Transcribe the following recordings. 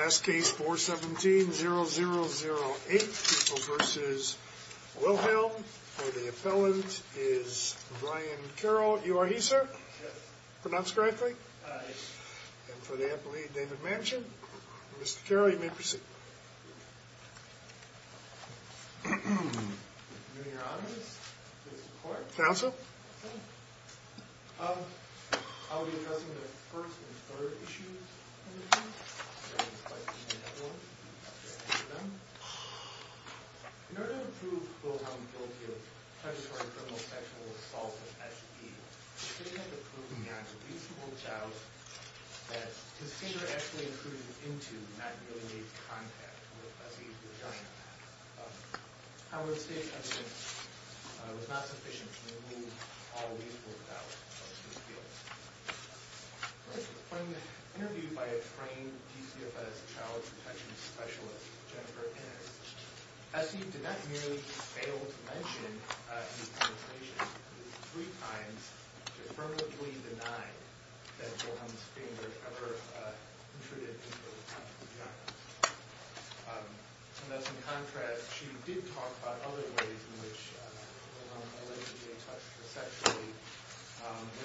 Last case, 417-0008, People v. Wilhelm. For the appellant is Brian Carroll. You are he, sir? Yes. Pronounced correctly? Aye. And for the appellee, David Manchin. Mr. Carroll, you may proceed. Counsel? Counsel? I'll be addressing the first and third issues of the case. In order to prove Wilhelm guilty of treachery, criminal, sexual assault, and STD, we have to prove beyond a reasonable doubt that his finger actually included into Matt Milley's contact with S.E.D. However, the state's evidence was not sufficient to remove all reasonable doubt. When interviewed by a trained DCFS child protection specialist, Jennifer Ennis, S.E.D. did not merely fail to mention his penetration, but three times affirmatively denied that Wilhelm's finger ever intruded into Matt's vagina. And thus, in contrast, she did talk about other ways in which Wilhelm allegedly touched her sexually,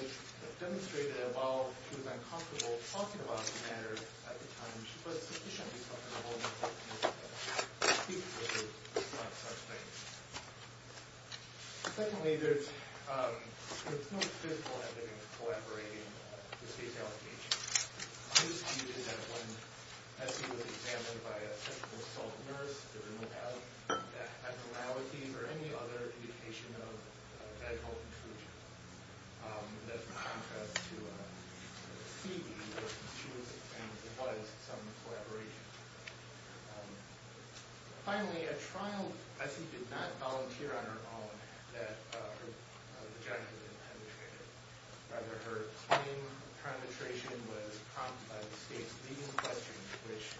which demonstrated that while she was uncomfortable talking about the matter at the time, she was sufficiently comfortable with the fact that his finger was not such a thing. Secondly, there is no physical evidence corroborating the state's allegations. It is disputed that when S.E.D. was examined by a sexual assault nurse, there really was no abnormality or any other indication of medical inclusion. In contrast to S.E.D., there was some collaboration. Finally, at trial, S.E.D. did not volunteer on her own that her vagina had been penetrated. Rather, her claim of penetration was prompted by the state's leading question, which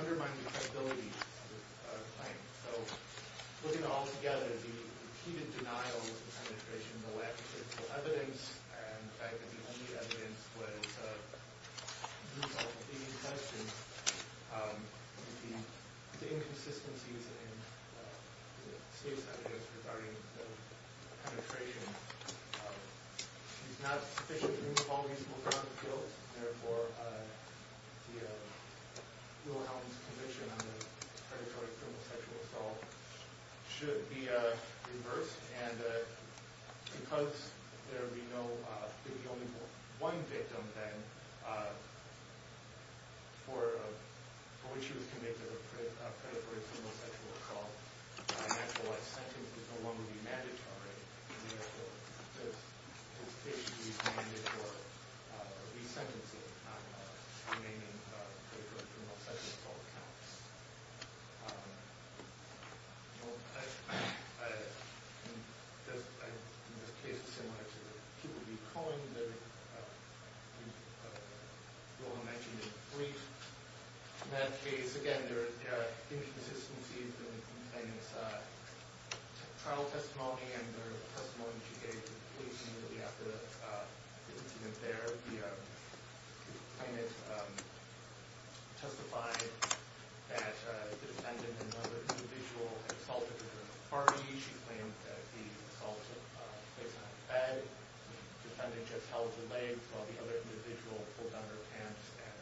undermined the credibility of the claim. So, looking all together, the repeated denial of penetration, the lack of physical evidence, and the fact that the only evidence was a group of leading questions, the inconsistencies in the state's evidence regarding the penetration, is not sufficient to remove all reasonable grounds of guilt. Therefore, Wilhelm's conviction on the predatory criminal sexual assault should be reversed. Because there would be only one victim, then, for which he was convicted of predatory criminal sexual assault, an actual life sentence would no longer be mandatory. Therefore, his case should be re-mandatory for re-sentencing remaining predatory criminal sexual assault counts. In this case, it's similar to the people he coined. Wilhelm mentioned the police. In that case, again, there are inconsistencies in the plaintiff's trial testimony and the testimony she gave to the police immediately after the defendant there, where the plaintiff testified that the defendant and another individual assaulted her in a party. She claimed that the assault took place in a bed. The defendant just held her legs while the other individual pulled down her pants and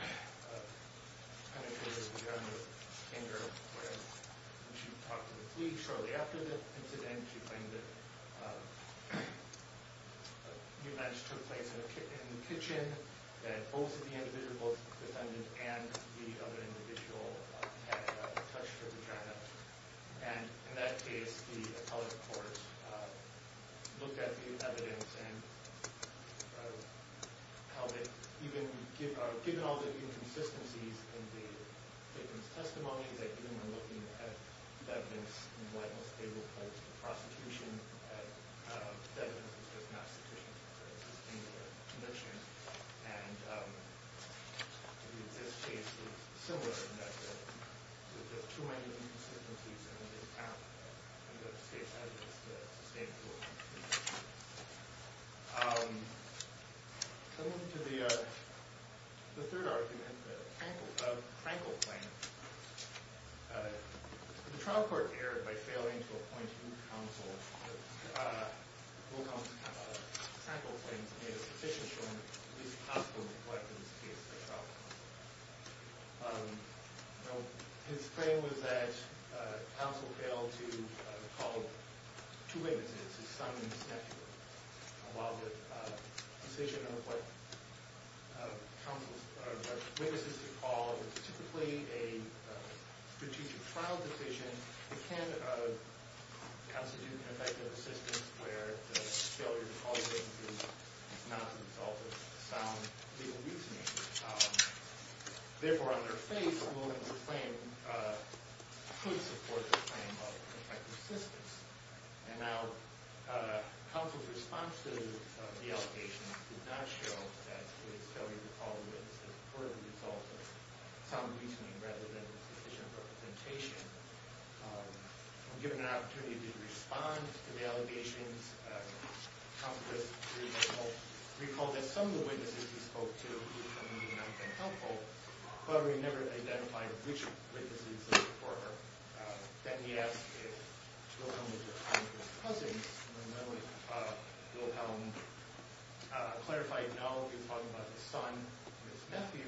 penetrated the ground with a finger. When she talked to the police shortly after the incident, she claimed that the event took place in the kitchen, that both the individual, both the defendant and the other individual, had touched her vagina. In that case, the appellate court looked at the evidence and held it, given all the inconsistencies in the victim's testimony, looking at the evidence and what most people hold for prostitution. The evidence was just not sufficient to sustain the conviction. In this case, it's similar in that there were just too many inconsistencies in the account. The state's evidence is sustainable. Coming to the third argument, the Frankel claim, the trial court erred by failing to appoint counsel. Frankel claims it is sufficient to at least possibly collect in this case a trial counsel. His claim was that counsel failed to recall two witnesses, his son and his nephew. While the decision of what witnesses to recall is typically a strategic trial decision, it can constitute an effective assistance where the failure to recall witnesses is not a result of sound legal reasoning. Therefore, on their face, the moment of the claim could support the claim of effective assistance. Now, counsel's response to the allegations did not show that the failure to recall witnesses occurred as a result of sound reasoning rather than sufficient representation. When given an opportunity to respond to the allegations, counsel recalled that some of the witnesses he spoke to did not find helpful, but he never identified which witnesses he spoke for. Then he asked if Wilhelm was his cousin. Wilhelm clarified, no, he was talking about his son and his nephew.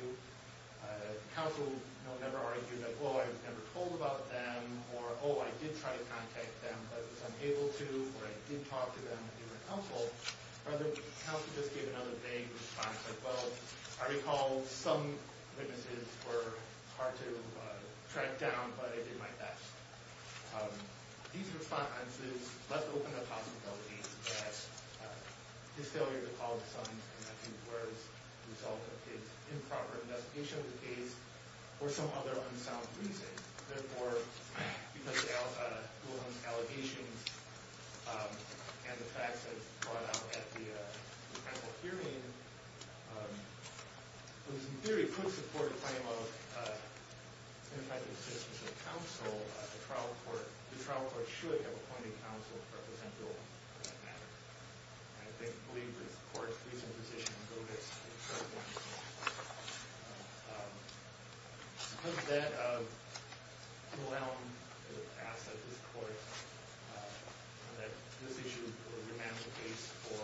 Counsel never argued that, oh, I was never told about them, or, oh, I did try to contact them, but was unable to, or I did talk to them through counsel. Rather, counsel just gave another vague response like, well, I recall some witnesses were hard to track down, but I did my best. These responses left open a possibility that his failure to call his sons and nephews were as a result of his improper investigation of the case or some other unsound reason. Therefore, because of Wilhelm's allegations and the facts that brought up at the hearing, which in theory could support a claim of effective assistance of counsel, the trial court should have appointed counsel to represent Wilhelm on that matter. I believe this court is in a position to go back to the trial court. Because of that, Wilhelm asked that this court, that this issue would remain the case for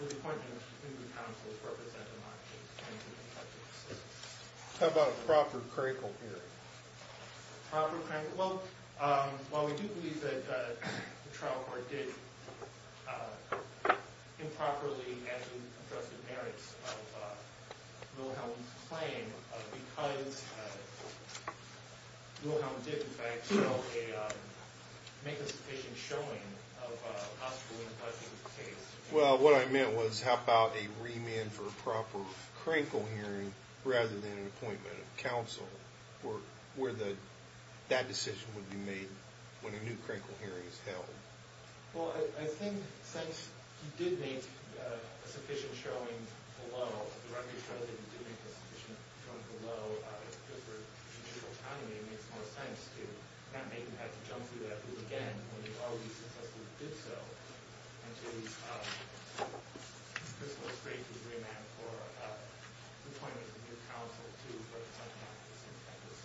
his appointment to be counsel to represent him on a claim of effective assistance. How about a proper critical hearing? Well, while we do believe that the trial court did improperly address the merits of Wilhelm's claim, because Wilhelm did, in fact, make a sufficient showing of a possible impact on the case. Well, what I meant was, how about a remand for a proper critical hearing rather than an appointment of counsel, where that decision would be made when a new critical hearing is held? Well, I think since he did make a sufficient showing below, the record shows that he did make a sufficient showing below, it makes more sense to not make him have to jump through that loop again when he already successfully did so, and to at least crystal-straightly remand for an appointment to be counsel to represent him on this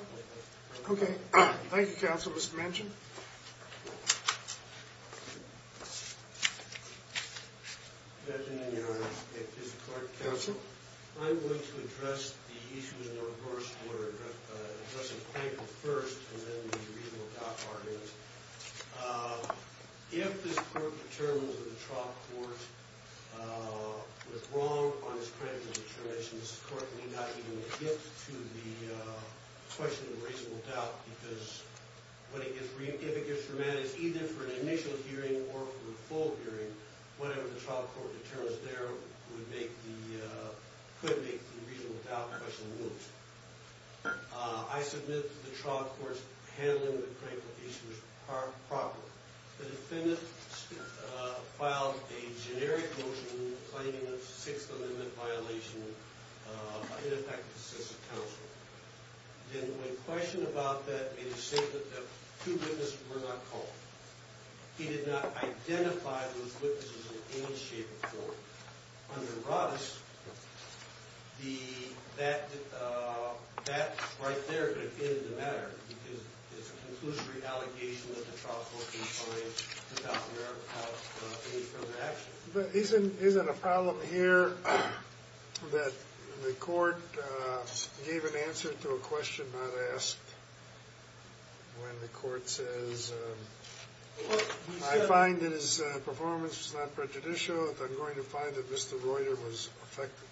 decision. Okay. Thank you, counsel. Mr. Manchin. Good afternoon, Your Honor. Mr. Clark, counsel. I'm going to address the issues in the reverse order, addressing Planker first, and then the reasonable doubt argument. If this court determines that the trial court was wrong on its critical determination, this court may not even get to the question of reasonable doubt, because if it gets remanded either for an initial hearing or for a full hearing, whatever the trial court determines there could make the reasonable doubt question loose. I submit that the trial court's handling of the critical issue was proper. The defendant filed a generic motion claiming a Sixth Amendment violation, in effect, to assist the counsel. Then when questioned about that, it is stated that two witnesses were not called. He did not identify those witnesses in any shape or form. Under Roddice, that right there could have been the matter, because it's a conclusory allegation that the trial court defines the South American House in its further action. But isn't a problem here that the court gave an answer to a question not asked when the court says, I find that his performance was not prejudicial, that I'm going to find that Mr. Reuter was affected?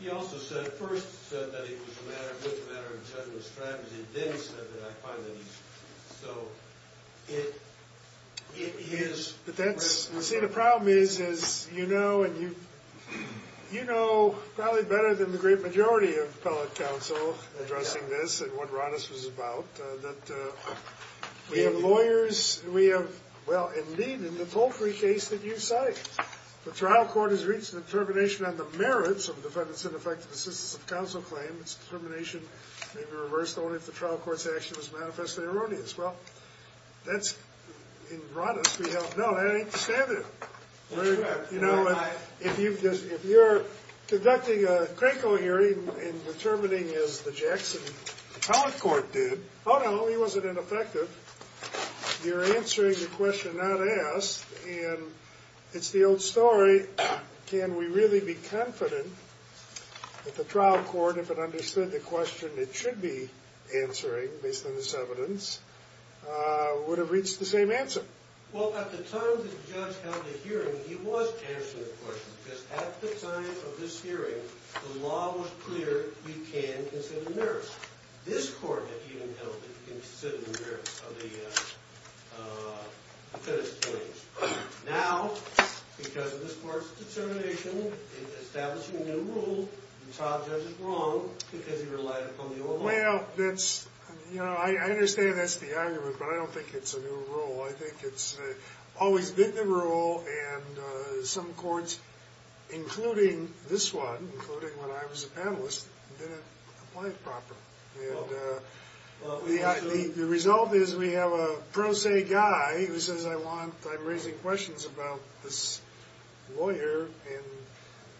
He also said, first said that it was a matter of general strategy. Then he said that I find that he's – so it is – But that's – see, the problem is, is you know, and you – you know probably better than the great majority of appellate counsel addressing this and what Roddice was about, that we have lawyers, we have – well, indeed, in the Palfrey case that you cite, the trial court has reached a determination on the merits of a defendant's ineffective assistance of counsel claim. Its determination may be reversed only if the trial court's action is manifestly erroneous. Well, that's – in Roddice, we have – no, that ain't standard. Very good. You know, if you've just – if you're conducting a Cranko hearing and determining, as the Jackson appellate court did, oh, no, he wasn't ineffective. You're answering the question not asked, and it's the old story, can we really be confident that the trial court, if it understood the question it should be answering, based on this evidence, would have reached the same answer? Well, at the time the judge held the hearing, he was answering the question, because at the time of this hearing, the law was clear, you can consider merits. This court had even held that you can consider the merits of the defendant's claims. Now, because of this court's determination in establishing a new rule, the trial judge is wrong because he relied upon the old law. Well, that's – you know, I understand that's the argument, but I don't think it's a new rule. I think it's always been the rule, and some courts, including this one, including when I was a panelist, didn't apply it properly. And the result is we have a pro se guy who says, I want – I'm raising questions about this lawyer, and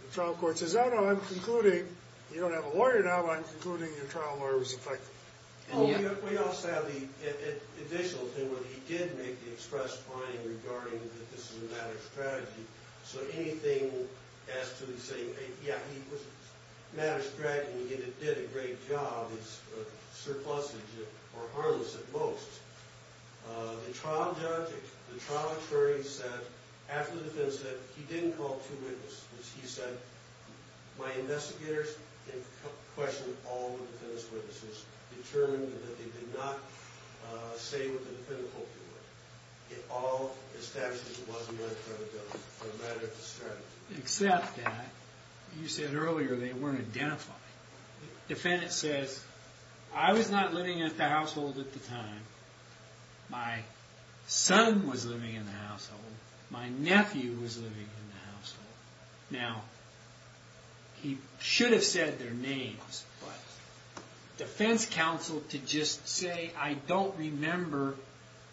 the trial court says, oh, no, I'm concluding – you don't have a lawyer now, but I'm concluding your trial lawyer was effective. We also have the additional thing where he did make the expressed point regarding the systematic strategy. So anything as to the saying, yeah, he was a mad as a dragon. He did a great job. His surpluses were harmless at most. The trial judge, the trial attorney said, after the defense said, he didn't call two witnesses. He said, my investigators questioned all the defense witnesses, determined that they did not say what the defendant hoped it would. It all established that he wasn't going to cover those, no matter the strategy. Except that, you said earlier, they weren't identified. The defendant says, I was not living at the household at the time. My son was living in the household. My nephew was living in the household. Now, he should have said their names, but defense counsel to just say, I don't remember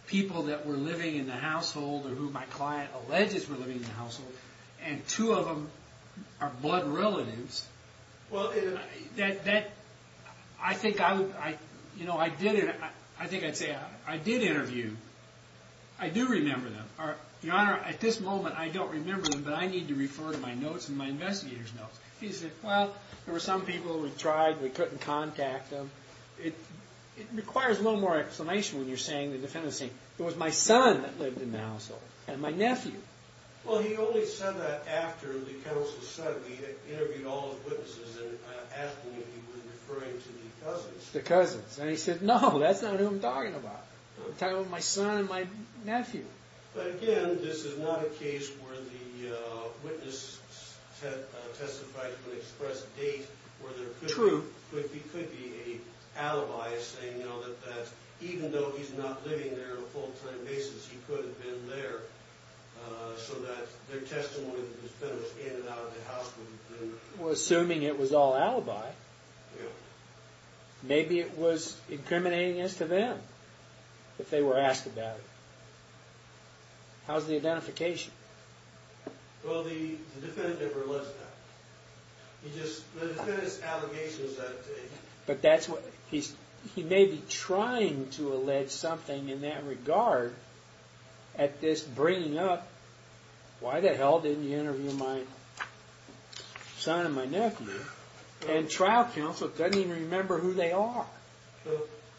people that were living in the household or who my client alleges were living in the household, and two of them are blood relatives. Well, that – I think I would – you know, I did – I think I'd say I did interview. I do remember them. Your Honor, at this moment, I don't remember them, but I need to refer to my notes and my investigator's notes. He said, well, there were some people we tried. We couldn't contact them. It requires a little more explanation when you're saying the defendant is saying, it was my son that lived in the household and my nephew. Well, he only said that after the counsel said it. He interviewed all the witnesses and asked them if he was referring to the cousins. The cousins. And he said, no, that's not who I'm talking about. I'm talking about my son and my nephew. But, again, this is not a case where the witness testified to an express date or there could be an alibi saying, you know, that even though he's not living there on a full-time basis, he could have been there so that their testimony that he spent was in and out of the household. Well, assuming it was all alibi. Yeah. Maybe it was incriminating as to them if they were asked about it. How's the identification? Well, the defendant never alleged that. He just, the defendant's allegation is that. But that's what, he may be trying to allege something in that regard at this bringing up, why the hell didn't you interview my son and my nephew? And trial counsel doesn't even remember who they are.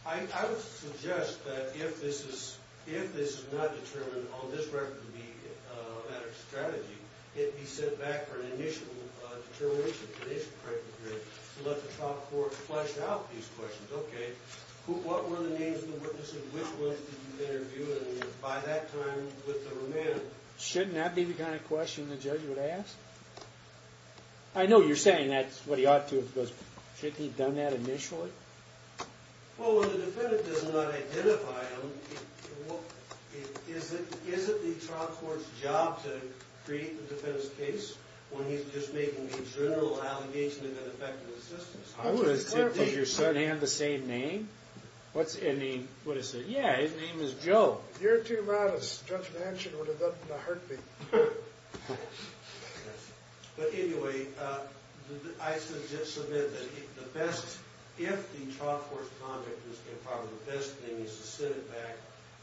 I would suggest that if this is not determined on this record to be a better strategy, it be sent back for an initial determination, an initial criteria, to let the trial court flesh out these questions. Okay. What were the names of the witnesses? Which ones did you interview? And by that time, with the remand? Shouldn't that be the kind of question the judge would ask? I know you're saying that's what he ought to have, but shouldn't he have done that initially? Well, when the defendant does not identify them, is it the trial court's job to create the defendant's case when he's just making a general allegation of ineffective assistance? Did your son have the same name? What's his name? Yeah, his name is Joe. You're too loud. As Judge Manchin would have done in a heartbeat. But anyway, I should just submit that the best, if the trial court's conduct was good, probably the best thing is to send it back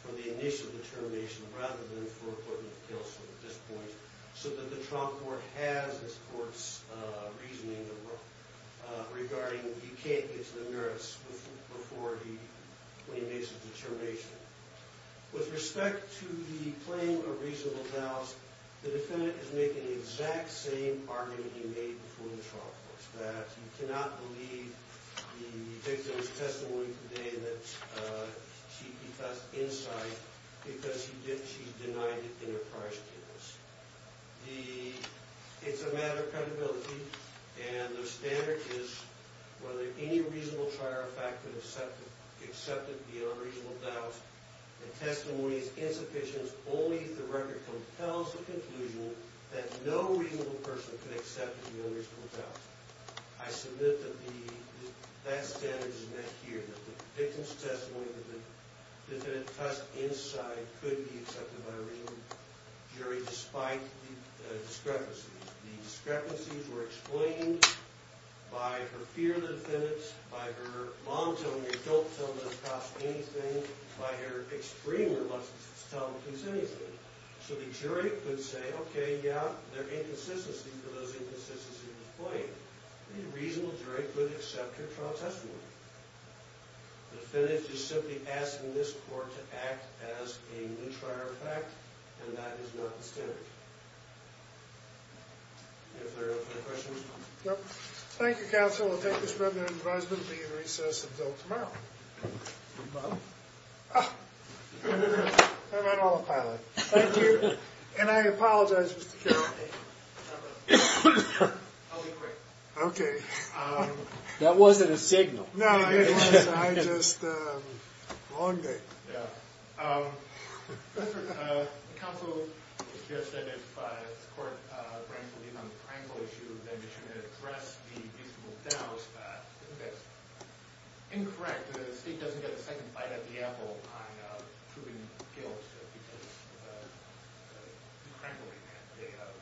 for the initial determination rather than for a court-made appeal at this point so that the trial court has its court's reasoning regarding he can't get to the merits before he makes a determination. With respect to the claim of reasonable vows, the defendant is making the exact same argument he made before the trial court, that you cannot believe the victim's testimony today that she kept us inside because she denied it in her prior statements. It's a matter of credibility, and the standard is whether any reasonable trial fact can accept it. Accept it beyond reasonable doubt. The testimony is insufficient only if the record compels the conclusion that no reasonable person can accept it beyond reasonable doubt. I submit that that standard is met here, that the victim's testimony, that the defendant's testimony inside could be accepted by a reasonable jury despite the discrepancies. The discrepancies were explained by her fear of the defendants, by her mom telling her, don't tell the cops anything, by her extreme reluctance to tell the police anything. So the jury could say, okay, yeah, there are inconsistencies for those inconsistencies in the claim. A reasonable jury could accept her trial testimony. The defendant is simply asking this court to act as a new trial fact, and that is not the standard. Any further questions? Thank you, counsel. We'll take this revenue advisement and be in recess until tomorrow. Bob? I'm on autopilot. Thank you. And I apologize, Mr. Carroll. I'll be quick. Okay. That wasn't a signal. No, it wasn't. I just, um, long day. Yeah. Counsel, you just said that if this court ranks a lead on the Frankl issue, then it should address the reasonable doubt. Isn't that incorrect? The state doesn't get a second bite out of the apple on proven guilt because of the Crankle event. They have,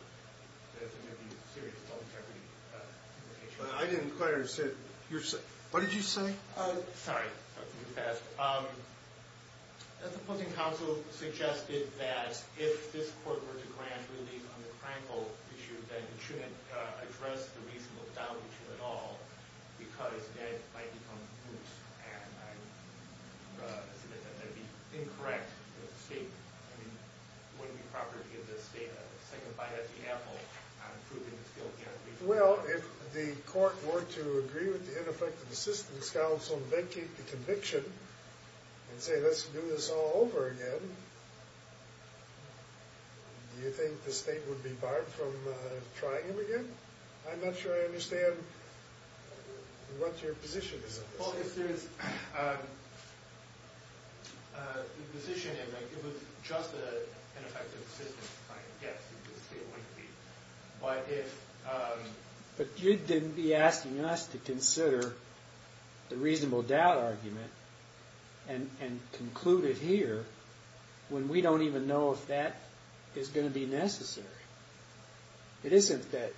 there's going to be a serious law interpretation. I didn't quite understand. What did you say? Sorry. That's too fast. Um, the opposing counsel suggested that if this court were to grant relief on the Crankle issue, then it shouldn't address the reasonable doubt issue at all because then it might become loose. And I, uh, I said that that would be incorrect with the state. I mean, it wouldn't be proper to give the state a second bite out of the apple on proven guilt. Well, if the court were to agree with the ineffective assistance counsel and vacate the conviction and say let's do this all over again, do you think the state would be barred from, uh, trying him again? I'm not sure I understand. What's your position on this? Well, if there's, um, uh, the position is that it was just an ineffective assistance claim, yes, the state would be, but if, um, But you'd then be asking us to consider the reasonable doubt argument and conclude it here when we don't even know if that is going to be necessary. It isn't that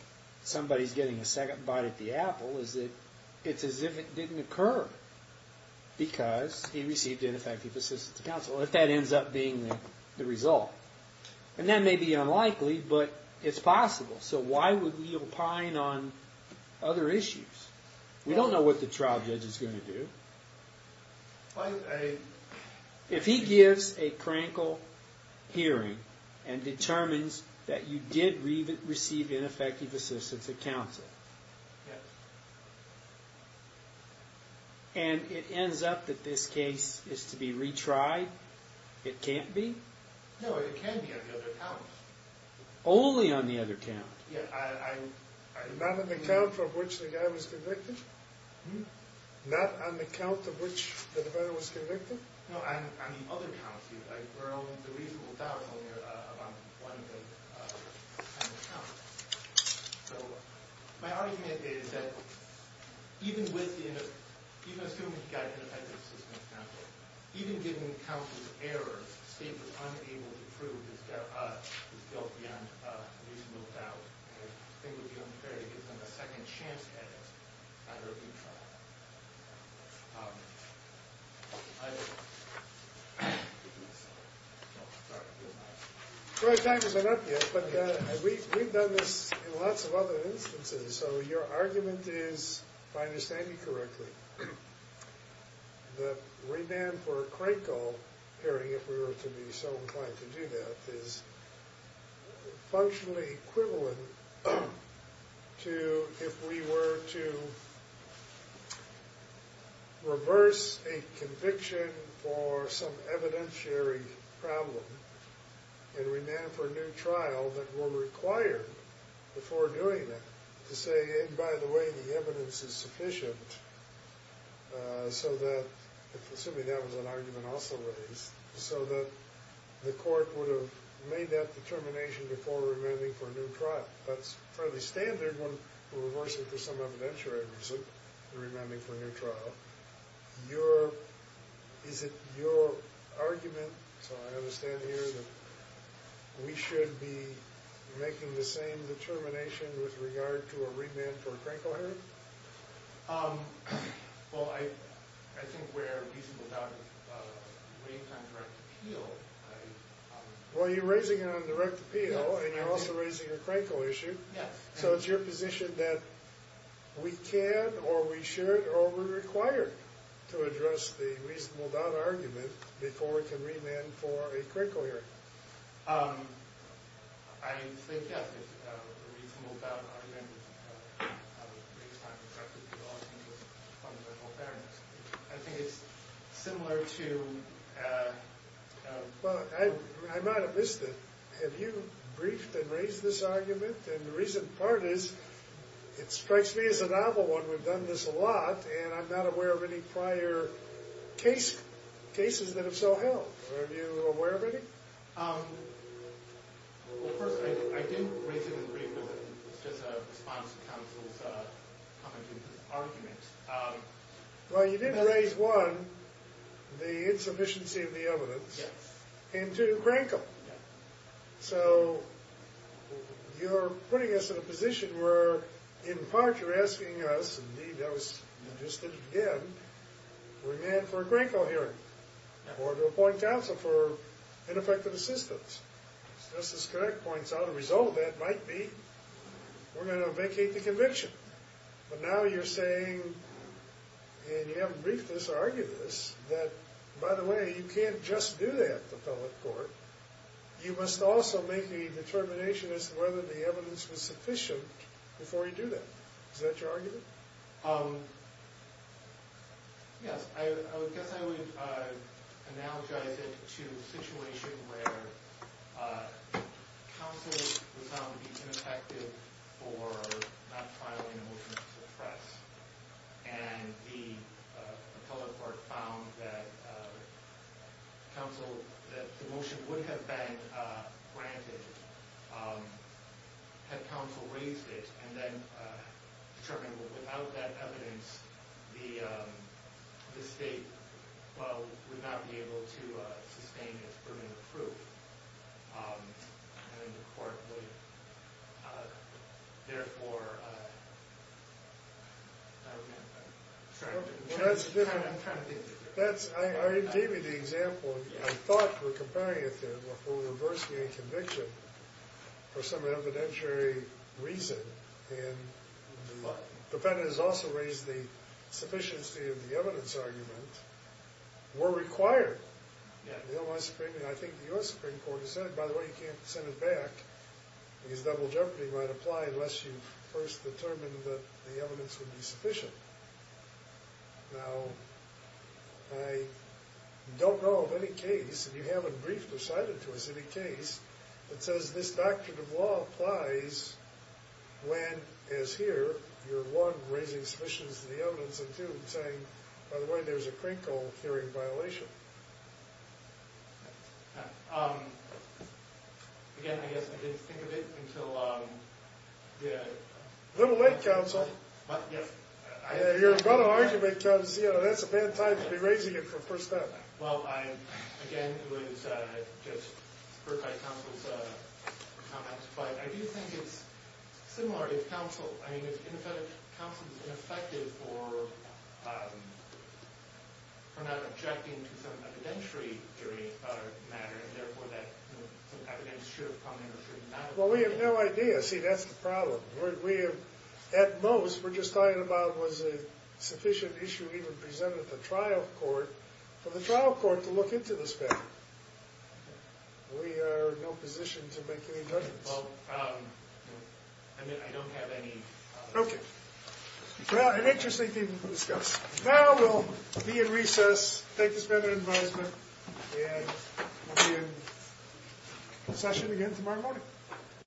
somebody's getting a second bite at the apple. It's as if it didn't occur because he received ineffective assistance counsel if that ends up being the result. And that may be unlikely, but it's possible. So why would we opine on other issues? We don't know what the trial judge is going to do. If he gives a crankle hearing and determines that you did receive ineffective assistance of counsel. Yes. And it ends up that this case is to be retried? It can't be? No, it can be on the other count. Only on the other count? Yeah, I, I, Not on the count of which the guy was convicted? Hmm? Not on the count of which the defendant was convicted? No, on the other count. We're only, the reasonable doubt is only around one of the kind of counts. So, my argument is that even with the, even assuming he got ineffective assistance counsel, even given counsel's errors, the state was unable to prove his guilt beyond reasonable doubt. I think it would be unfair to give him a second chance at it under a new trial. Um, I don't know. Troy, time isn't up yet, but we've done this in lots of other instances, so your argument is, if I understand you correctly, the remand for a crankle hearing, if we were to be so inclined to do that, is functionally equivalent to if we were to reverse a conviction for some evidentiary problem and remand for a new trial that were required before doing it, to say, and by the way, the evidence is sufficient, uh, so that, assuming that was an argument also raised, so that the court would have made that determination before remanding for a new trial. That's fairly standard when reversing for some evidentiary reason and remanding for a new trial. Your, is it your argument, so I understand here, that we should be making the same determination with regard to a remand for a crankle hearing? Um, well, I, I think where reasonable doubt is, uh, based on direct appeal, Well, you're raising it on direct appeal, and you're also raising a crankle issue, so it's your position that we can, or we should, or we're required to address the reasonable doubt argument before we can remand for a crankle hearing. Um, I think, yeah, the reasonable doubt argument I think it's similar to, Well, I might have missed it. Have you briefed and raised this argument? And the reason part is, it strikes me as a novel one. We've done this a lot, and I'm not aware of any prior case, cases that have so held. Are you aware of any? Um, well, first, I didn't raise it in brief, it was just a response to counsel's, uh, comment to this argument. Well, you did raise one, the insufficiency of the evidence, into crankle. So, you're putting us in a position where, in part, you're asking us, indeed, that was suggested again, remand for a crankle hearing, or to appoint counsel for ineffective assistance. Justice Connick points out, a result of that might be we're going to vacate the conviction. But now you're saying, and you haven't briefed this, argued this, that, by the way, you can't just do that to public court. You must also make a determination as to whether the evidence was sufficient before you do that. Is that your argument? Um, yes. I guess I would, uh, analogize it to a situation where, uh, counsel was found to be ineffective for not filing a motion to suppress. And the, uh, public court found that, uh, counsel, that the motion would have been, uh, granted, um, had counsel raised it, and then, uh, determined that without that evidence, the, um, the state, well, would not be able to, uh, sustain its permanent proof. Um, and the court would, uh, therefore, uh, I don't know. That's different. I'm trying to think. That's, I gave you the example. I thought for comparing it to or for reversing a conviction for some evidentiary reason, and the defendant has also raised the sufficiency of the evidence argument, were required. Yeah. I think the U.S. Supreme Court has said, by the way, you can't send it back, because double jeopardy might apply unless you've first determined that the evidence would be sufficient. Now, I don't know of any case, and you haven't briefed or cited to us any case, that says this doctrine of law applies when, as here, you're, one, raising sufficiency of the evidence, and two, saying, by the way, there's a Krinkle hearing violation. Yeah. Um, again, I guess I didn't think of it until, um, yeah. A little late, counsel. What? Yes. You're about to argue, because, you know, that's a bad time to be raising it for the first time. Well, I, again, it was, uh, just heard by counsel's, uh, comments, but I do think it's similar if counsel, I mean, if counsel's ineffective for, um, for not objecting to some evidentiary theory, uh, matter, and therefore that, you know, some evidence should have come in or should not have come in. Well, we have no idea. See, that's the problem. We have, at most, we're just talking about, was a sufficient issue even presented at the trial court for the trial court to look into this matter. We are in no position to make any judgments. Well, um, I mean, I don't have any, uh... Okay. Well, an interesting thing to discuss. Now, we'll be in recess, take this matter into advisement, and we'll be in session again tomorrow morning.